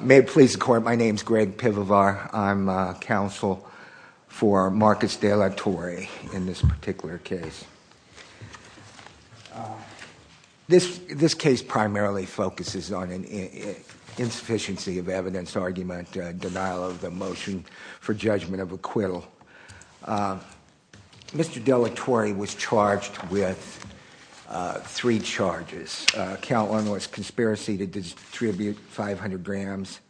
May it please the court, my name is Greg Pivovar. I'm counsel for Marcos De La Torre in this particular case. This this case primarily focuses on an insufficiency of evidence argument, denial of the motion for judgment of acquittal. Mr. De La Torre was charged with three charges. Count one was conspiracy to distribute 500 grams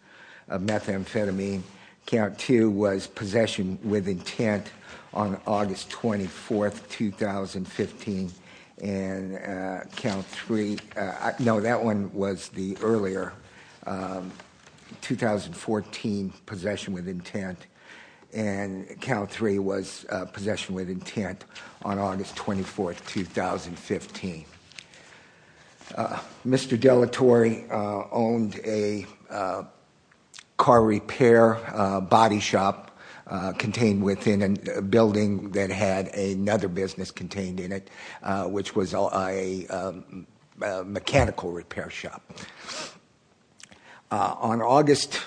of methamphetamine. Count two was possession with intent on August 24th 2015 and count three, no that one was the earlier 2014 possession with intent and count three was possession with intent on August 24th 2015. Mr. De La Torre owned a car repair body shop contained within a building that had another business contained in it which was a mechanical repair shop. On August,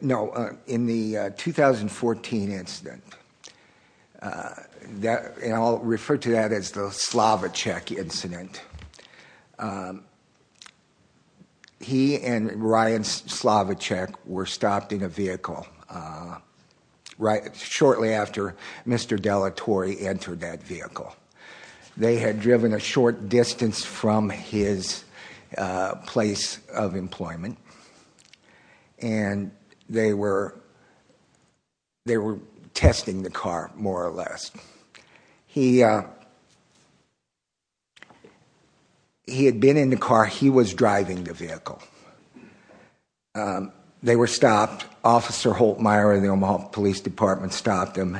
no in the 2014 incident that and I'll refer to that as the Slavichek incident. He and Ryan Slavichek were stopped in a vehicle right shortly after Mr. De La Torre entered that vehicle. They had driven a short distance from his place of testing the car more or less. He had been in the car, he was driving the vehicle. They were stopped. Officer Holtmeyer of the Omaha Police Department stopped them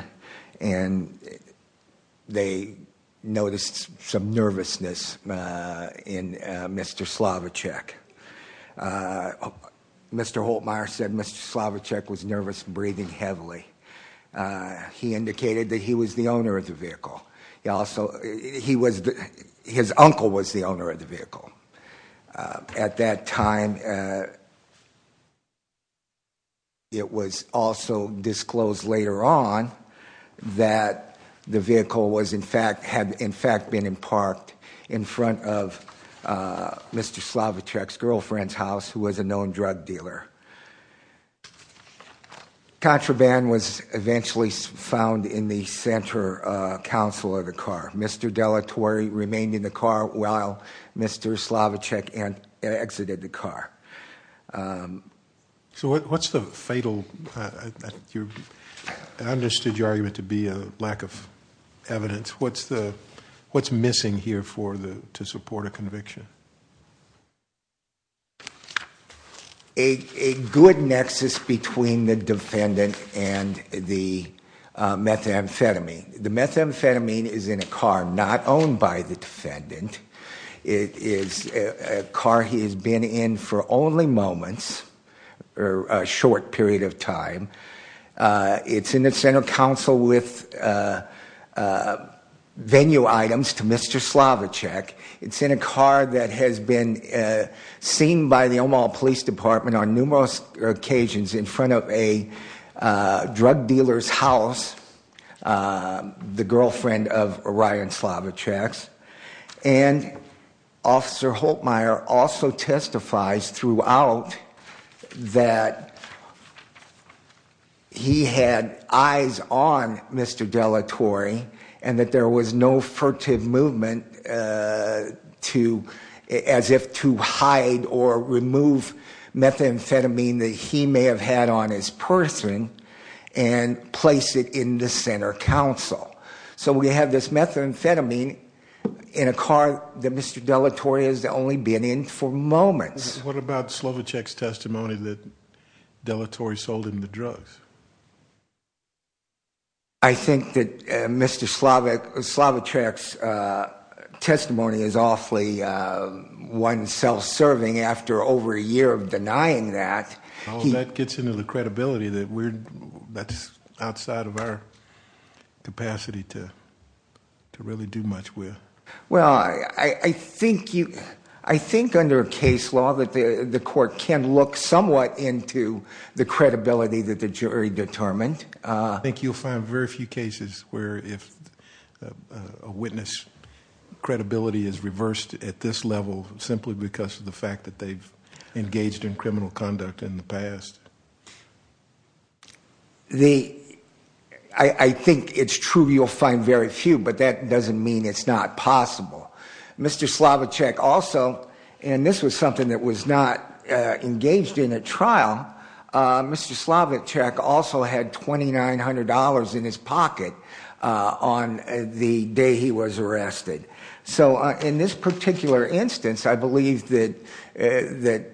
and they noticed some nervousness in Mr. Slavichek. Mr. Slavichek, he indicated that he was the owner of the vehicle. He also, he was, his uncle was the owner of the vehicle. At that time it was also disclosed later on that the vehicle was in fact, had in fact been in parked in front of Mr. Slavichek's girlfriend's house who was a known drug dealer. Contraband was eventually found in the center console of the car. Mr. De La Torre remained in the car while Mr. Slavichek and exited the car. So what's the fatal, I understood your argument to be a lack of evidence. What's the, what's missing here for the to support a good nexus between the defendant and the methamphetamine? The methamphetamine is in a car not owned by the defendant. It is a car he has been in for only moments or a short period of time. It's in the center council with venue items to Mr. Slavichek. It's in a car that has been seen by the Omaha Police Department on numerous occasions in front of a drug dealer's house, the girlfriend of Ryan Slavichek's. And Officer Holtmeyer also testifies throughout that he had eyes on Mr. De La Torre and that there was no furtive movement to, as if to hide or remove methamphetamine that he may have had on his person and place it in the center council. So we have this methamphetamine in a car that Mr. De La Torre has only been in for moments. What about Slavichek's testimony that De La I think that Mr. Slavichek's testimony is awfully one self-serving after over a year of denying that. That gets into the credibility that we're that's outside of our capacity to to really do much with. Well I I think you I think under a case law that the the court can look somewhat into the credibility that the jury determined. I think you'll find very few cases where if a witness credibility is reversed at this level simply because of the fact that they've engaged in criminal conduct in the past. The I I think it's true you'll find very few but that doesn't mean it's not possible. Mr. Slavichek also and this was something that was not engaged in a trial. Mr. Slavichek also had $2,900 in his pocket on the day he was arrested. So in this particular instance I believe that that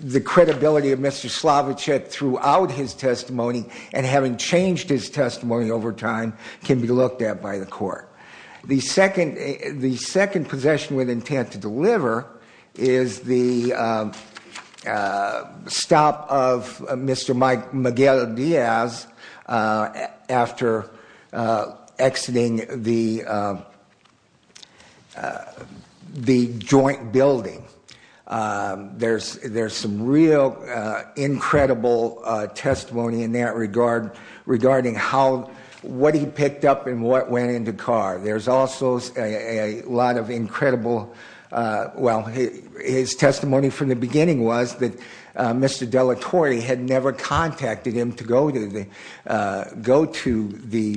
the credibility of Mr. Slavichek throughout his testimony and having changed his testimony over time can be looked at by the court. The second the stop of Mr. Mike Miguel Diaz after exiting the the joint building. There's there's some real incredible testimony in that regard regarding how what he picked up and what went into car. There's also a lot of incredible well his testimony from the beginning was that Mr. Della Torre had never contacted him to go to the go to the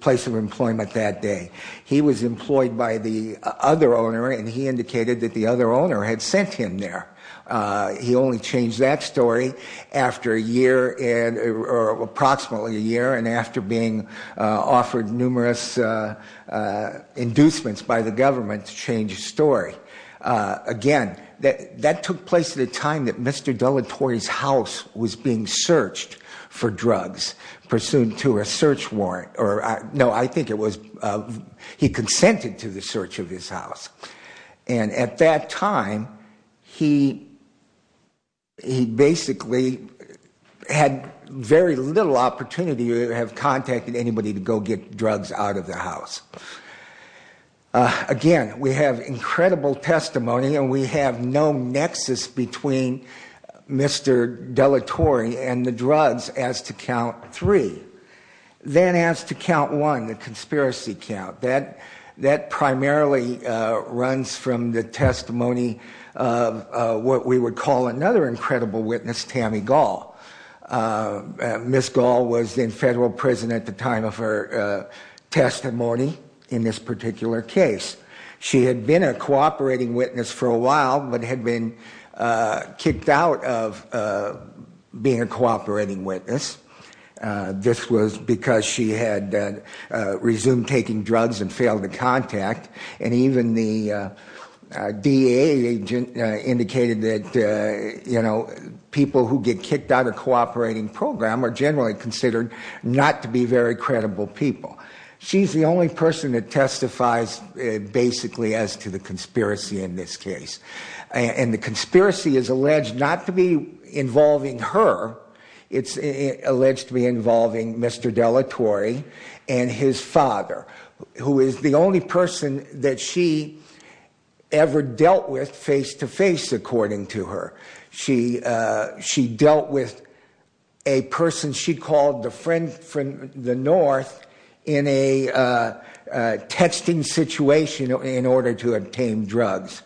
place of employment that day. He was employed by the other owner and he indicated that the other owner had sent him there. He only changed that story after a year and or approximately a year and after being that took place at a time that Mr. Della Torre's house was being searched for drugs pursuant to a search warrant or no I think it was he consented to the search of his house. And at that time he he basically had very little opportunity to have contacted anybody to go get drugs out of the house. Again we have incredible testimony and we have no nexus between Mr. Della Torre and the drugs as to count three. Then as to count one the conspiracy count that that primarily runs from the testimony of what we would call another incredible witness Tammy Gaul. Miss Gaul was in federal prison at the time of her testimony in this particular case. She had been a cooperating witness for a while but had been kicked out of being a cooperating witness. This was because she had resumed taking drugs and failed to contact and even the DA agent indicated that you know people who get kicked out of cooperating program are generally considered not to be very credible people. She's the only person that testifies basically as to the conspiracy in this case and the conspiracy is alleged not to be involving her it's alleged to be involving Mr. Della Torre and his father who is the only person that she ever called the friend from the north in a texting situation in order to obtain drugs.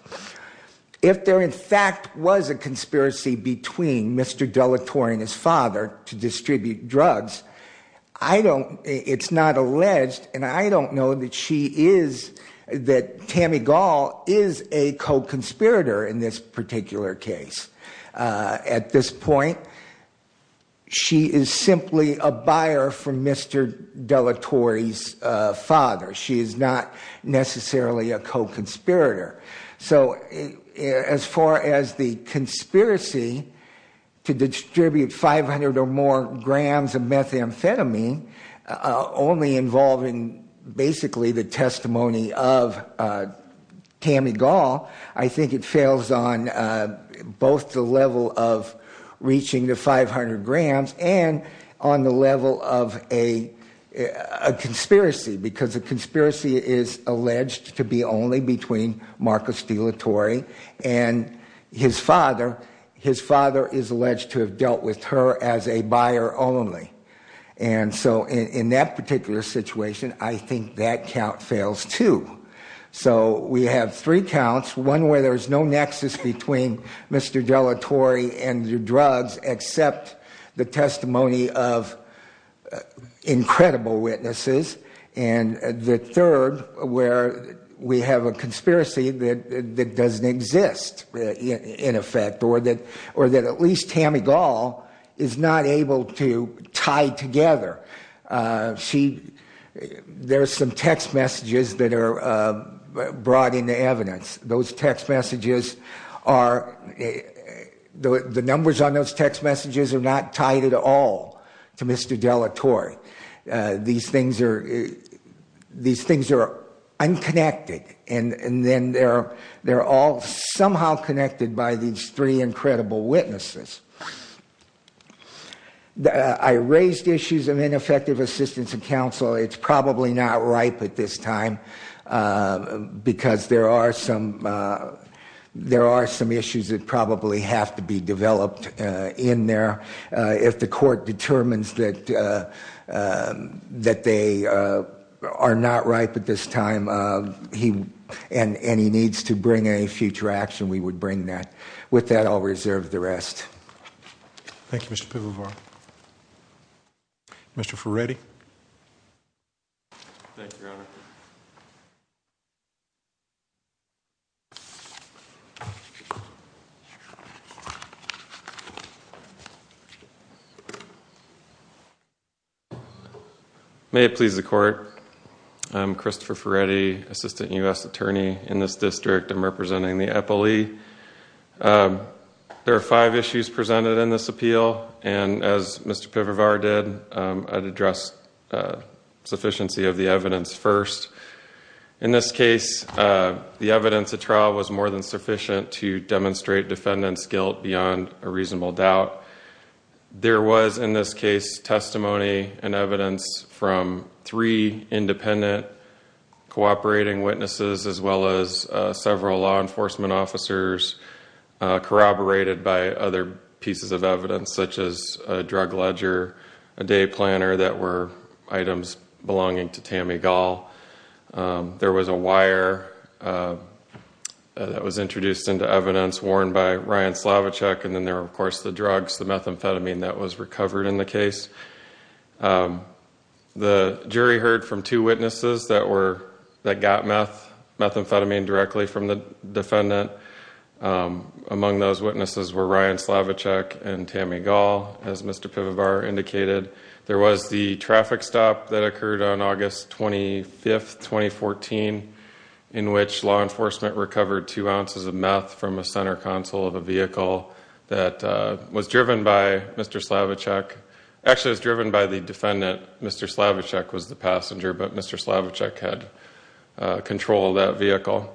If there in fact was a conspiracy between Mr. Della Torre and his father to distribute drugs I don't it's not alleged and I don't know that she is that Tammy Gaul is a co-conspirator in this particular case. At this point she is simply a buyer for Mr. Della Torre's father she is not necessarily a co-conspirator. So as far as the conspiracy to distribute 500 or more grams of methamphetamine only involving basically the testimony of Tammy Gaul I think it fails on both the level of reaching the 500 grams and on the level of a conspiracy because the conspiracy is alleged to be only between Marcus Della Torre and his father. His father is alleged to have dealt with her as a buyer only and so in that particular situation I think that count fails too. So we have three counts one where there's no nexus between Mr. Della Torre and the drugs except the testimony of incredible witnesses and the third where we have a conspiracy that doesn't exist in effect or that or that at least Tammy Gaul is not able to tie together. She there's some text messages that are brought into evidence those text messages are the numbers on those text messages are not tied at all to Mr. Della Torre. These things are these things are unconnected and and then they're they're all somehow connected by these three incredible witnesses. I raised issues of ineffective assistance of counsel it's probably not ripe at this time because there are some there are some issues that probably have to be developed in there if the court determines that that they are not ripe at this time he and any needs to bring any future action we would bring that with that I'll reserve the rest. Thank you. May it please the court. I'm Christopher Ferretti assistant U.S. attorney in this district. I'm representing the Eppley. There are five issues presented in this appeal and as Mr. Pivar did address sufficiency of the evidence first in this case the evidence the trial was more than sufficient to demonstrate defendants guilt beyond a reasonable doubt there was in this case testimony and evidence from three independent cooperating witnesses as well as several law enforcement officers corroborated by other pieces of evidence such as a drug ledger a day planner that were items belonging to Tammy Gall there was a wire that was introduced into evidence worn by Ryan Slavichuk and then there of course the drugs the methamphetamine that was recovered in the case the jury heard from two witnesses that were that got methamphetamine directly from the defendant among those witnesses were Ryan Slavichuk and Tammy Gall as Mr. Pivar indicated there was the traffic stop that occurred on August 25th 2014 in which law enforcement recovered two ounces of meth from a center console of a vehicle that was driven by Mr. Slavichuk actually was driven by the defendant Mr. Slavichuk was the control of that vehicle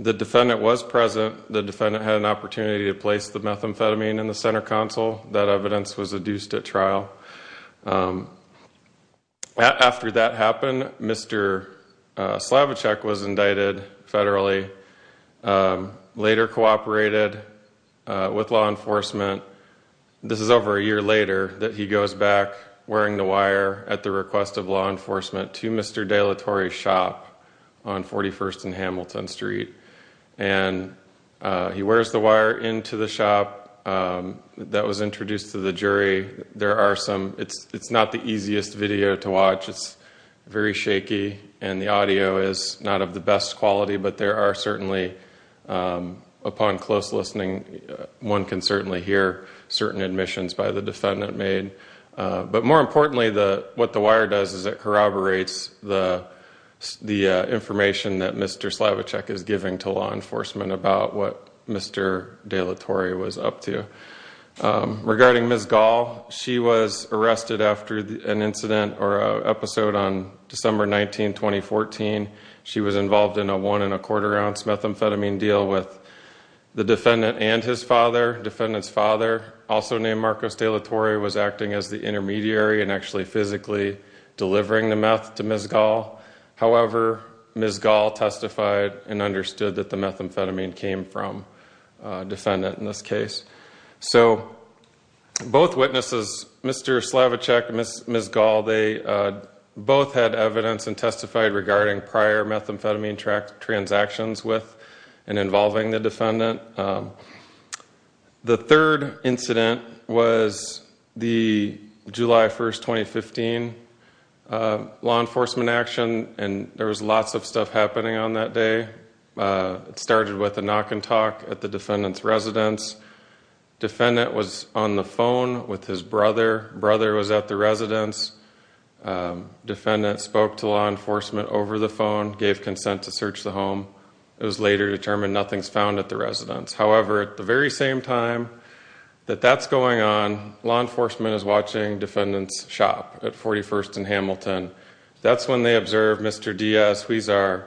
the defendant was present the defendant had an opportunity to place the methamphetamine in the center console that evidence was adduced at trial after that happened Mr. Slavichuk was indicted federally later cooperated with law enforcement this is over a year later that he goes back wearing the wire at the request of law enforcement to Mr. De La Torre shop on 41st and Hamilton Street and he wears the wire into the shop that was introduced to the jury there are some it's it's not the easiest video to watch it's very shaky and the audio is not of the best quality but there are certainly upon close listening one can certainly hear certain admissions by the defendant made but more importantly the what the wire does is it corroborates the the information that Mr. Slavichuk is giving to law enforcement about what Mr. De La Torre was up to regarding Ms. Gall she was arrested after an incident or a episode on December 19 2014 she was involved in a one and a quarter ounce methamphetamine deal with the defendant and his father defendants father also named Marcos de la Torre was acting as the intermediary and actually physically delivering the meth to Ms. Gall however Ms. Gall testified and understood that the methamphetamine came from defendant in this case so both witnesses Mr. Slavichuk and Ms. Gall they both had evidence and testified regarding prior methamphetamine track with and involving the defendant the third incident was the July 1st 2015 law enforcement action and there was lots of stuff happening on that day it started with a knock and talk at the defendant's residence defendant was on the phone with his brother brother was at the residence defendant spoke to law enforcement gave consent to search the home it was later determined nothing's found at the residence however at the very same time that that's going on law enforcement is watching defendants shop at 41st and Hamilton that's when they observed Mr. Diaz Suizar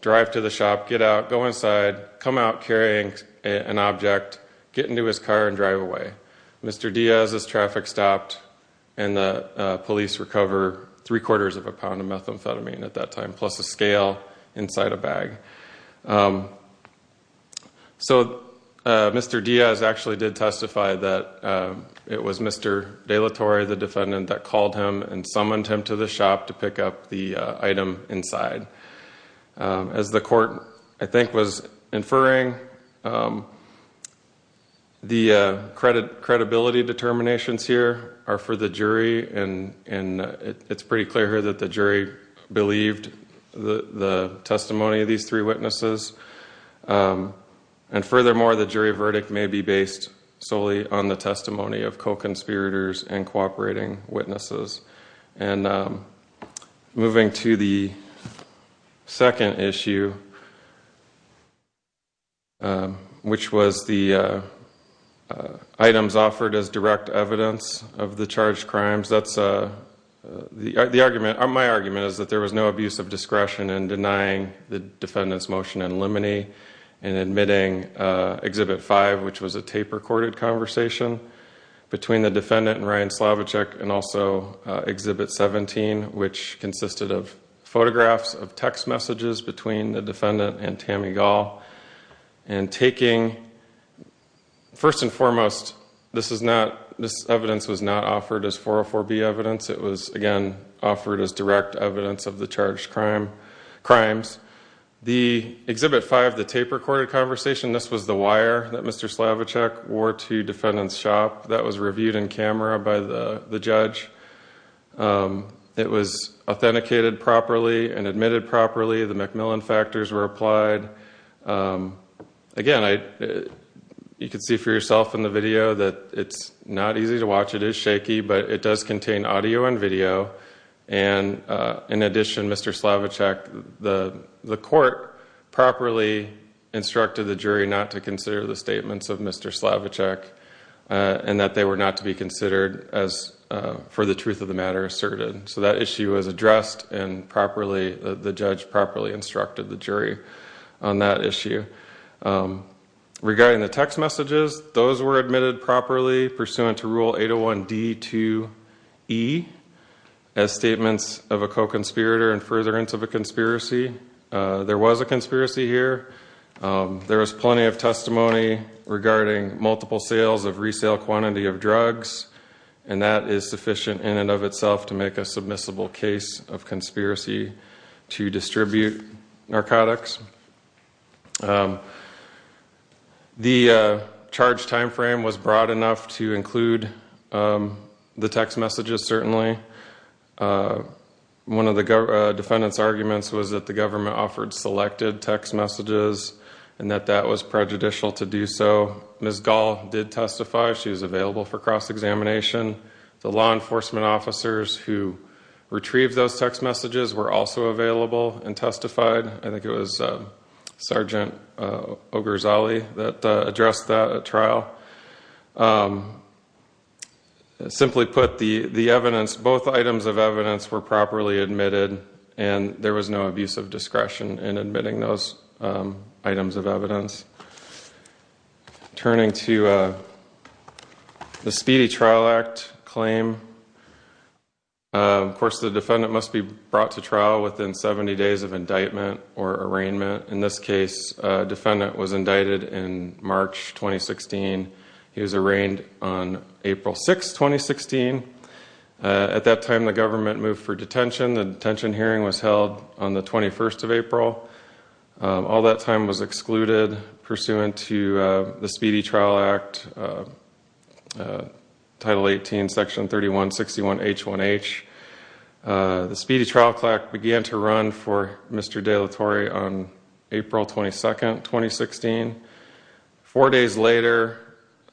drive to the shop get out go inside come out carrying an object get into his car and drive away Mr. Diaz's traffic stopped and the police recover three quarters of a pound of methamphetamine at that time plus a scale inside a bag so Mr. Diaz actually did testify that it was Mr. De La Torre the defendant that called him and summoned him to the shop to pick up the item inside as the court I think was inferring the credit credibility determinations here are for the jury and and it's pretty clear here that the the testimony of these three witnesses and furthermore the jury verdict may be based solely on the testimony of co-conspirators and cooperating witnesses and moving to the second issue which was the items offered as direct evidence of the charged crimes that's the argument on my argument is that there was no abuse of discretion and denying the defendants motion and limine and admitting exhibit 5 which was a tape-recorded conversation between the defendant and Ryan Slavichek and also exhibit 17 which consisted of photographs of text messages between the defendant and Tammy Gall and taking first and foremost this is not this evidence it was again offered as direct evidence of the charged crime crimes the exhibit 5 the tape-recorded conversation this was the wire that mr. Slavichek wore to defendants shop that was reviewed in camera by the the judge it was authenticated properly and admitted properly the Macmillan factors were applied again I you can see for yourself in the video that it's not easy to watch it is shaky but it does contain audio and video and in addition mr. Slavichek the the court properly instructed the jury not to consider the statements of mr. Slavichek and that they were not to be considered as for the truth of the matter asserted so that issue was addressed and properly the judge properly instructed the jury on that issue regarding the text messages those were admitted properly pursuant to rule 801 D to E as statements of a co-conspirator and furtherance of a conspiracy there was a conspiracy here there was plenty of testimony regarding multiple sales of resale quantity of drugs and that is sufficient in and of itself to make a submissible case of time frame was broad enough to include the text messages certainly one of the defendants arguments was that the government offered selected text messages and that that was prejudicial to do so miss gall did testify she was available for cross-examination the law enforcement officers who retrieved those text messages were also available and there was no abuse of discretion in admitting those items of evidence simply put the the evidence both items of evidence were properly admitted and there was no abuse of discretion in admitting those items of evidence turning to the speedy trial act claim of course the defendant must be brought to trial within 70 days of indictment or arraignment in this case defendant was arraigned on April 6 2016 at that time the government moved for detention the detention hearing was held on the 21st of April all that time was excluded pursuant to the speedy trial act title 18 section 3161 H1 H the speedy trial act began to run for mr. de la Torre on April 22nd 2016 four days later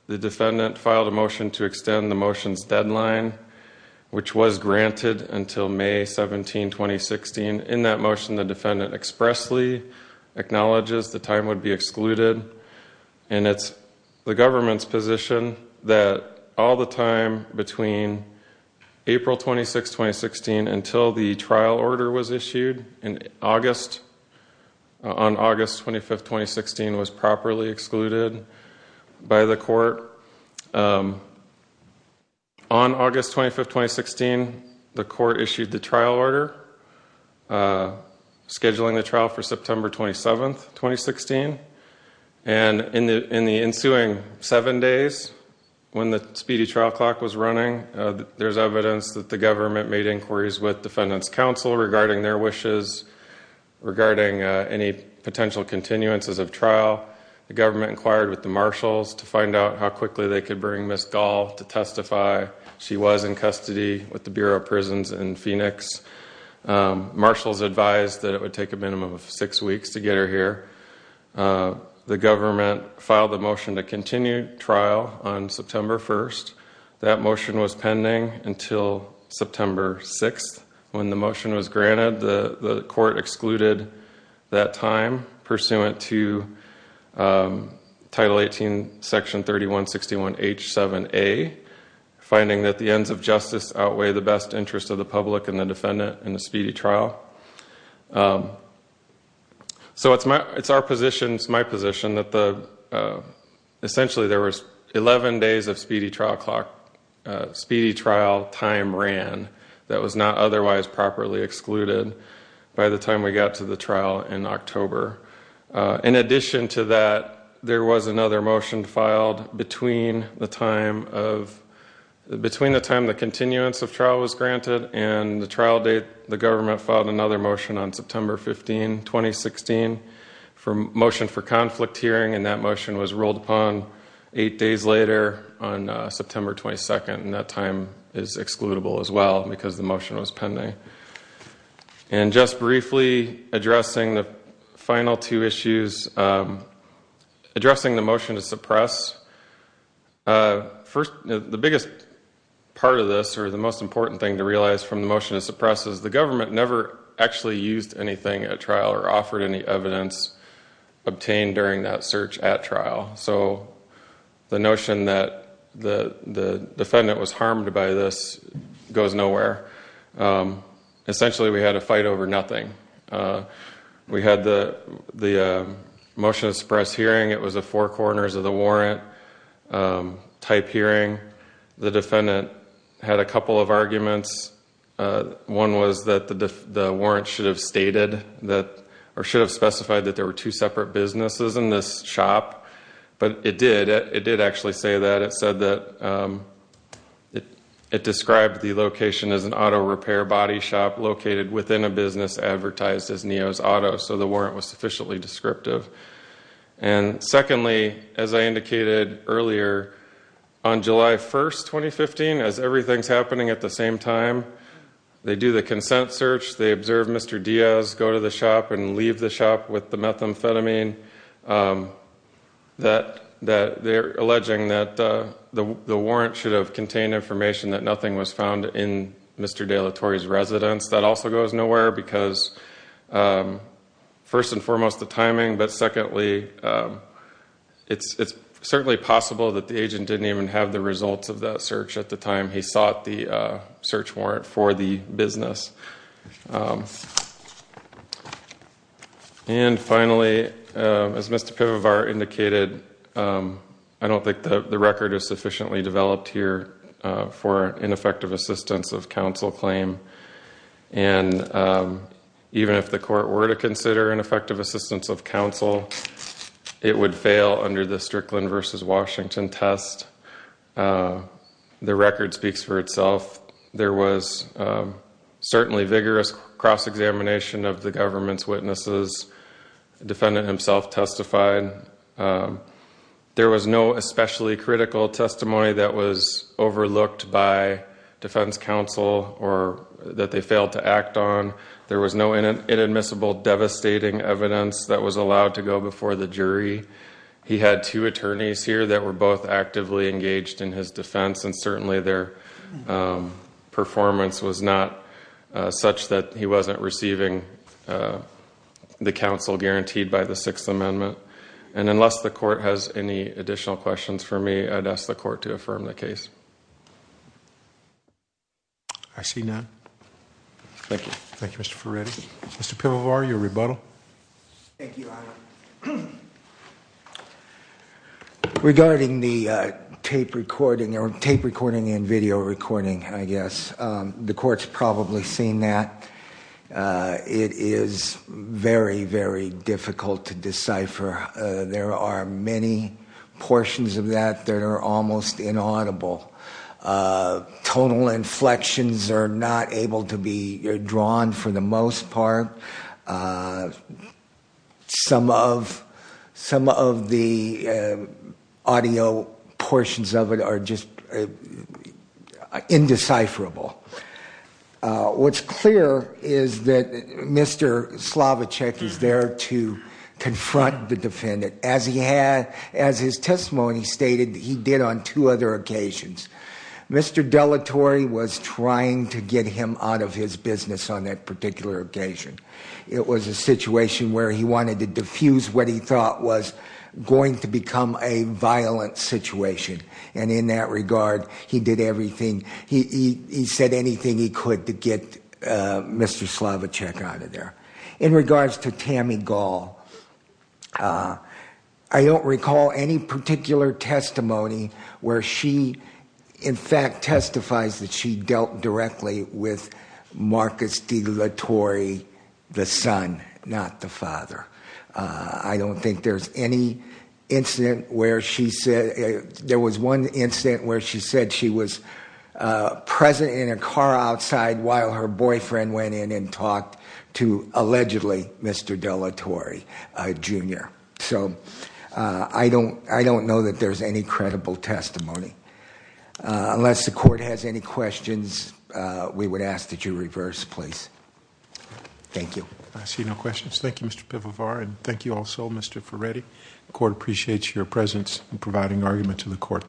the defendant filed a motion to extend the motions deadline which was granted until May 17 2016 in that motion the defendant expressly acknowledges the time would be excluded and it's the government's position that all the time between April 26 2016 until the trial order was issued in August on August 25 2016 was properly excluded by the court on August 25 2016 the court issued the trial order scheduling the trial for September 27th 2016 and in the in the trial for September 27th 2016 the trial was running there's evidence that the government made inquiries with defendants counsel regarding their wishes regarding any potential continuances of trial the government inquired with the marshals to find out how quickly they could bring this call to testify she was in custody with the Bureau of Prisons in Phoenix. Marshals advised that it would take a minimum of 6 weeks to get her here. The government filed a motion to continue trial on September 1st that motion was pending until September 6th when the motion was granted the court excluded that time pursuant to title 18 section 3161 h7a finding that the ends of justice outweigh the best interest of the public and the defendant in the speedy trial. So it's it's our positions my position that the essentially there was 11 days of speedy trial clock speedy trial time ran that was not otherwise properly excluded by the time we got to the trial in October in addition to that there was another motion filed between the time of between the time the continuance of trial was granted and the trial date the government filed another motion on from motion for conflict hearing and that motion was rolled upon eight days later on September 22nd and that time is excludable as well because the motion was pending and just briefly addressing the final two issues addressing the motion to suppress first the biggest part of this or the most important thing to realize from the motion to suppress is the government never actually used anything at trial or offered any evidence obtained during that search at trial so the notion that the the defendant was harmed by this goes nowhere essentially we had a fight over nothing we had the the motion to suppress hearing it was a four corners of the warrant type hearing the defendant had a warrant type hearing. The warrant type hearing stated that or should have specified that there were 2 separate businesses in this shop. But it did it did actually say that it said it described the location as an auto repair body shop located within a business advertised as near as auto. So the warrant was sufficiently descriptive. And secondly, as I indicated earlier on the warrant type hearing was not found in Mr. De La Torre's residence. Everything's happening at the same time. They do the consent search they observe Mister Diaz go to the shop and leave the shop with the methamphetamine. That that they're alleging the warrant should have contained information that nothing was found in Mr. De La Torre's residence that also goes nowhere because first and foremost, there's no evidence that Mr. De La Torre was involved in the timing. But it's it's certainly possible that the agent didn't even have the results of that search at the time he search warrant for the business. And as Mister indicated. I don't think that the record is sufficiently clear. The record speaks for itself. There was certainly a vigorous cross-examination of the government's witnesses. The defendant himself testified. There was no especially critical testimony that was overlooked by defense counsel or that they failed to act on. There was no inadmissible devastating evidence that was allowed to go before the jury. He had two attorneys here that were both actively engaged in his defense and certainly their performance was not such that he wasn't receiving the counsel guaranteed by the Sixth Amendment. And unless the court has any additional questions for me, I'd ask the court to affirm the case. I see none. Thank you. Thank you, Mr. Ferretti. Mr. Pivovar, your rebuttal. Regarding the tape recording or tape recording and video recording, I guess, the court's probably seen that. It is very, very difficult to decipher. There are many portions of that that are almost inaudible. Total inflections are not able to be drawn for the most part. Some of the audio portions of it are just indecipherable. What's clear is that Mr. Slavichek is there to defend himself. As his testimony stated, he did on two other occasions. Mr. Dellatore was trying to get him out of his business on that particular occasion. It was a situation where he wanted to diffuse what he thought was going to become a violent situation. And in that regard, he did everything, he said anything he could to get Mr. Slavichek out of there. In regards to Tammy Gall, I don't recall any particular testimony where she, in fact, testifies that she dealt directly with Marcus Dellatore, the son, not the father. I don't think there's any incident where she said, there was one incident where she said she was present in a car outside while her boyfriend went in and talked to Mr. Dellatore, Jr. So I don't know that there's any credible testimony. Unless the court has any questions, we would ask that you reverse, please. Thank you. I see no questions. Thank you, Mr. Pivovar. And thank you also, Mr. Ferretti. The court appreciates your presence in providing argument to the court.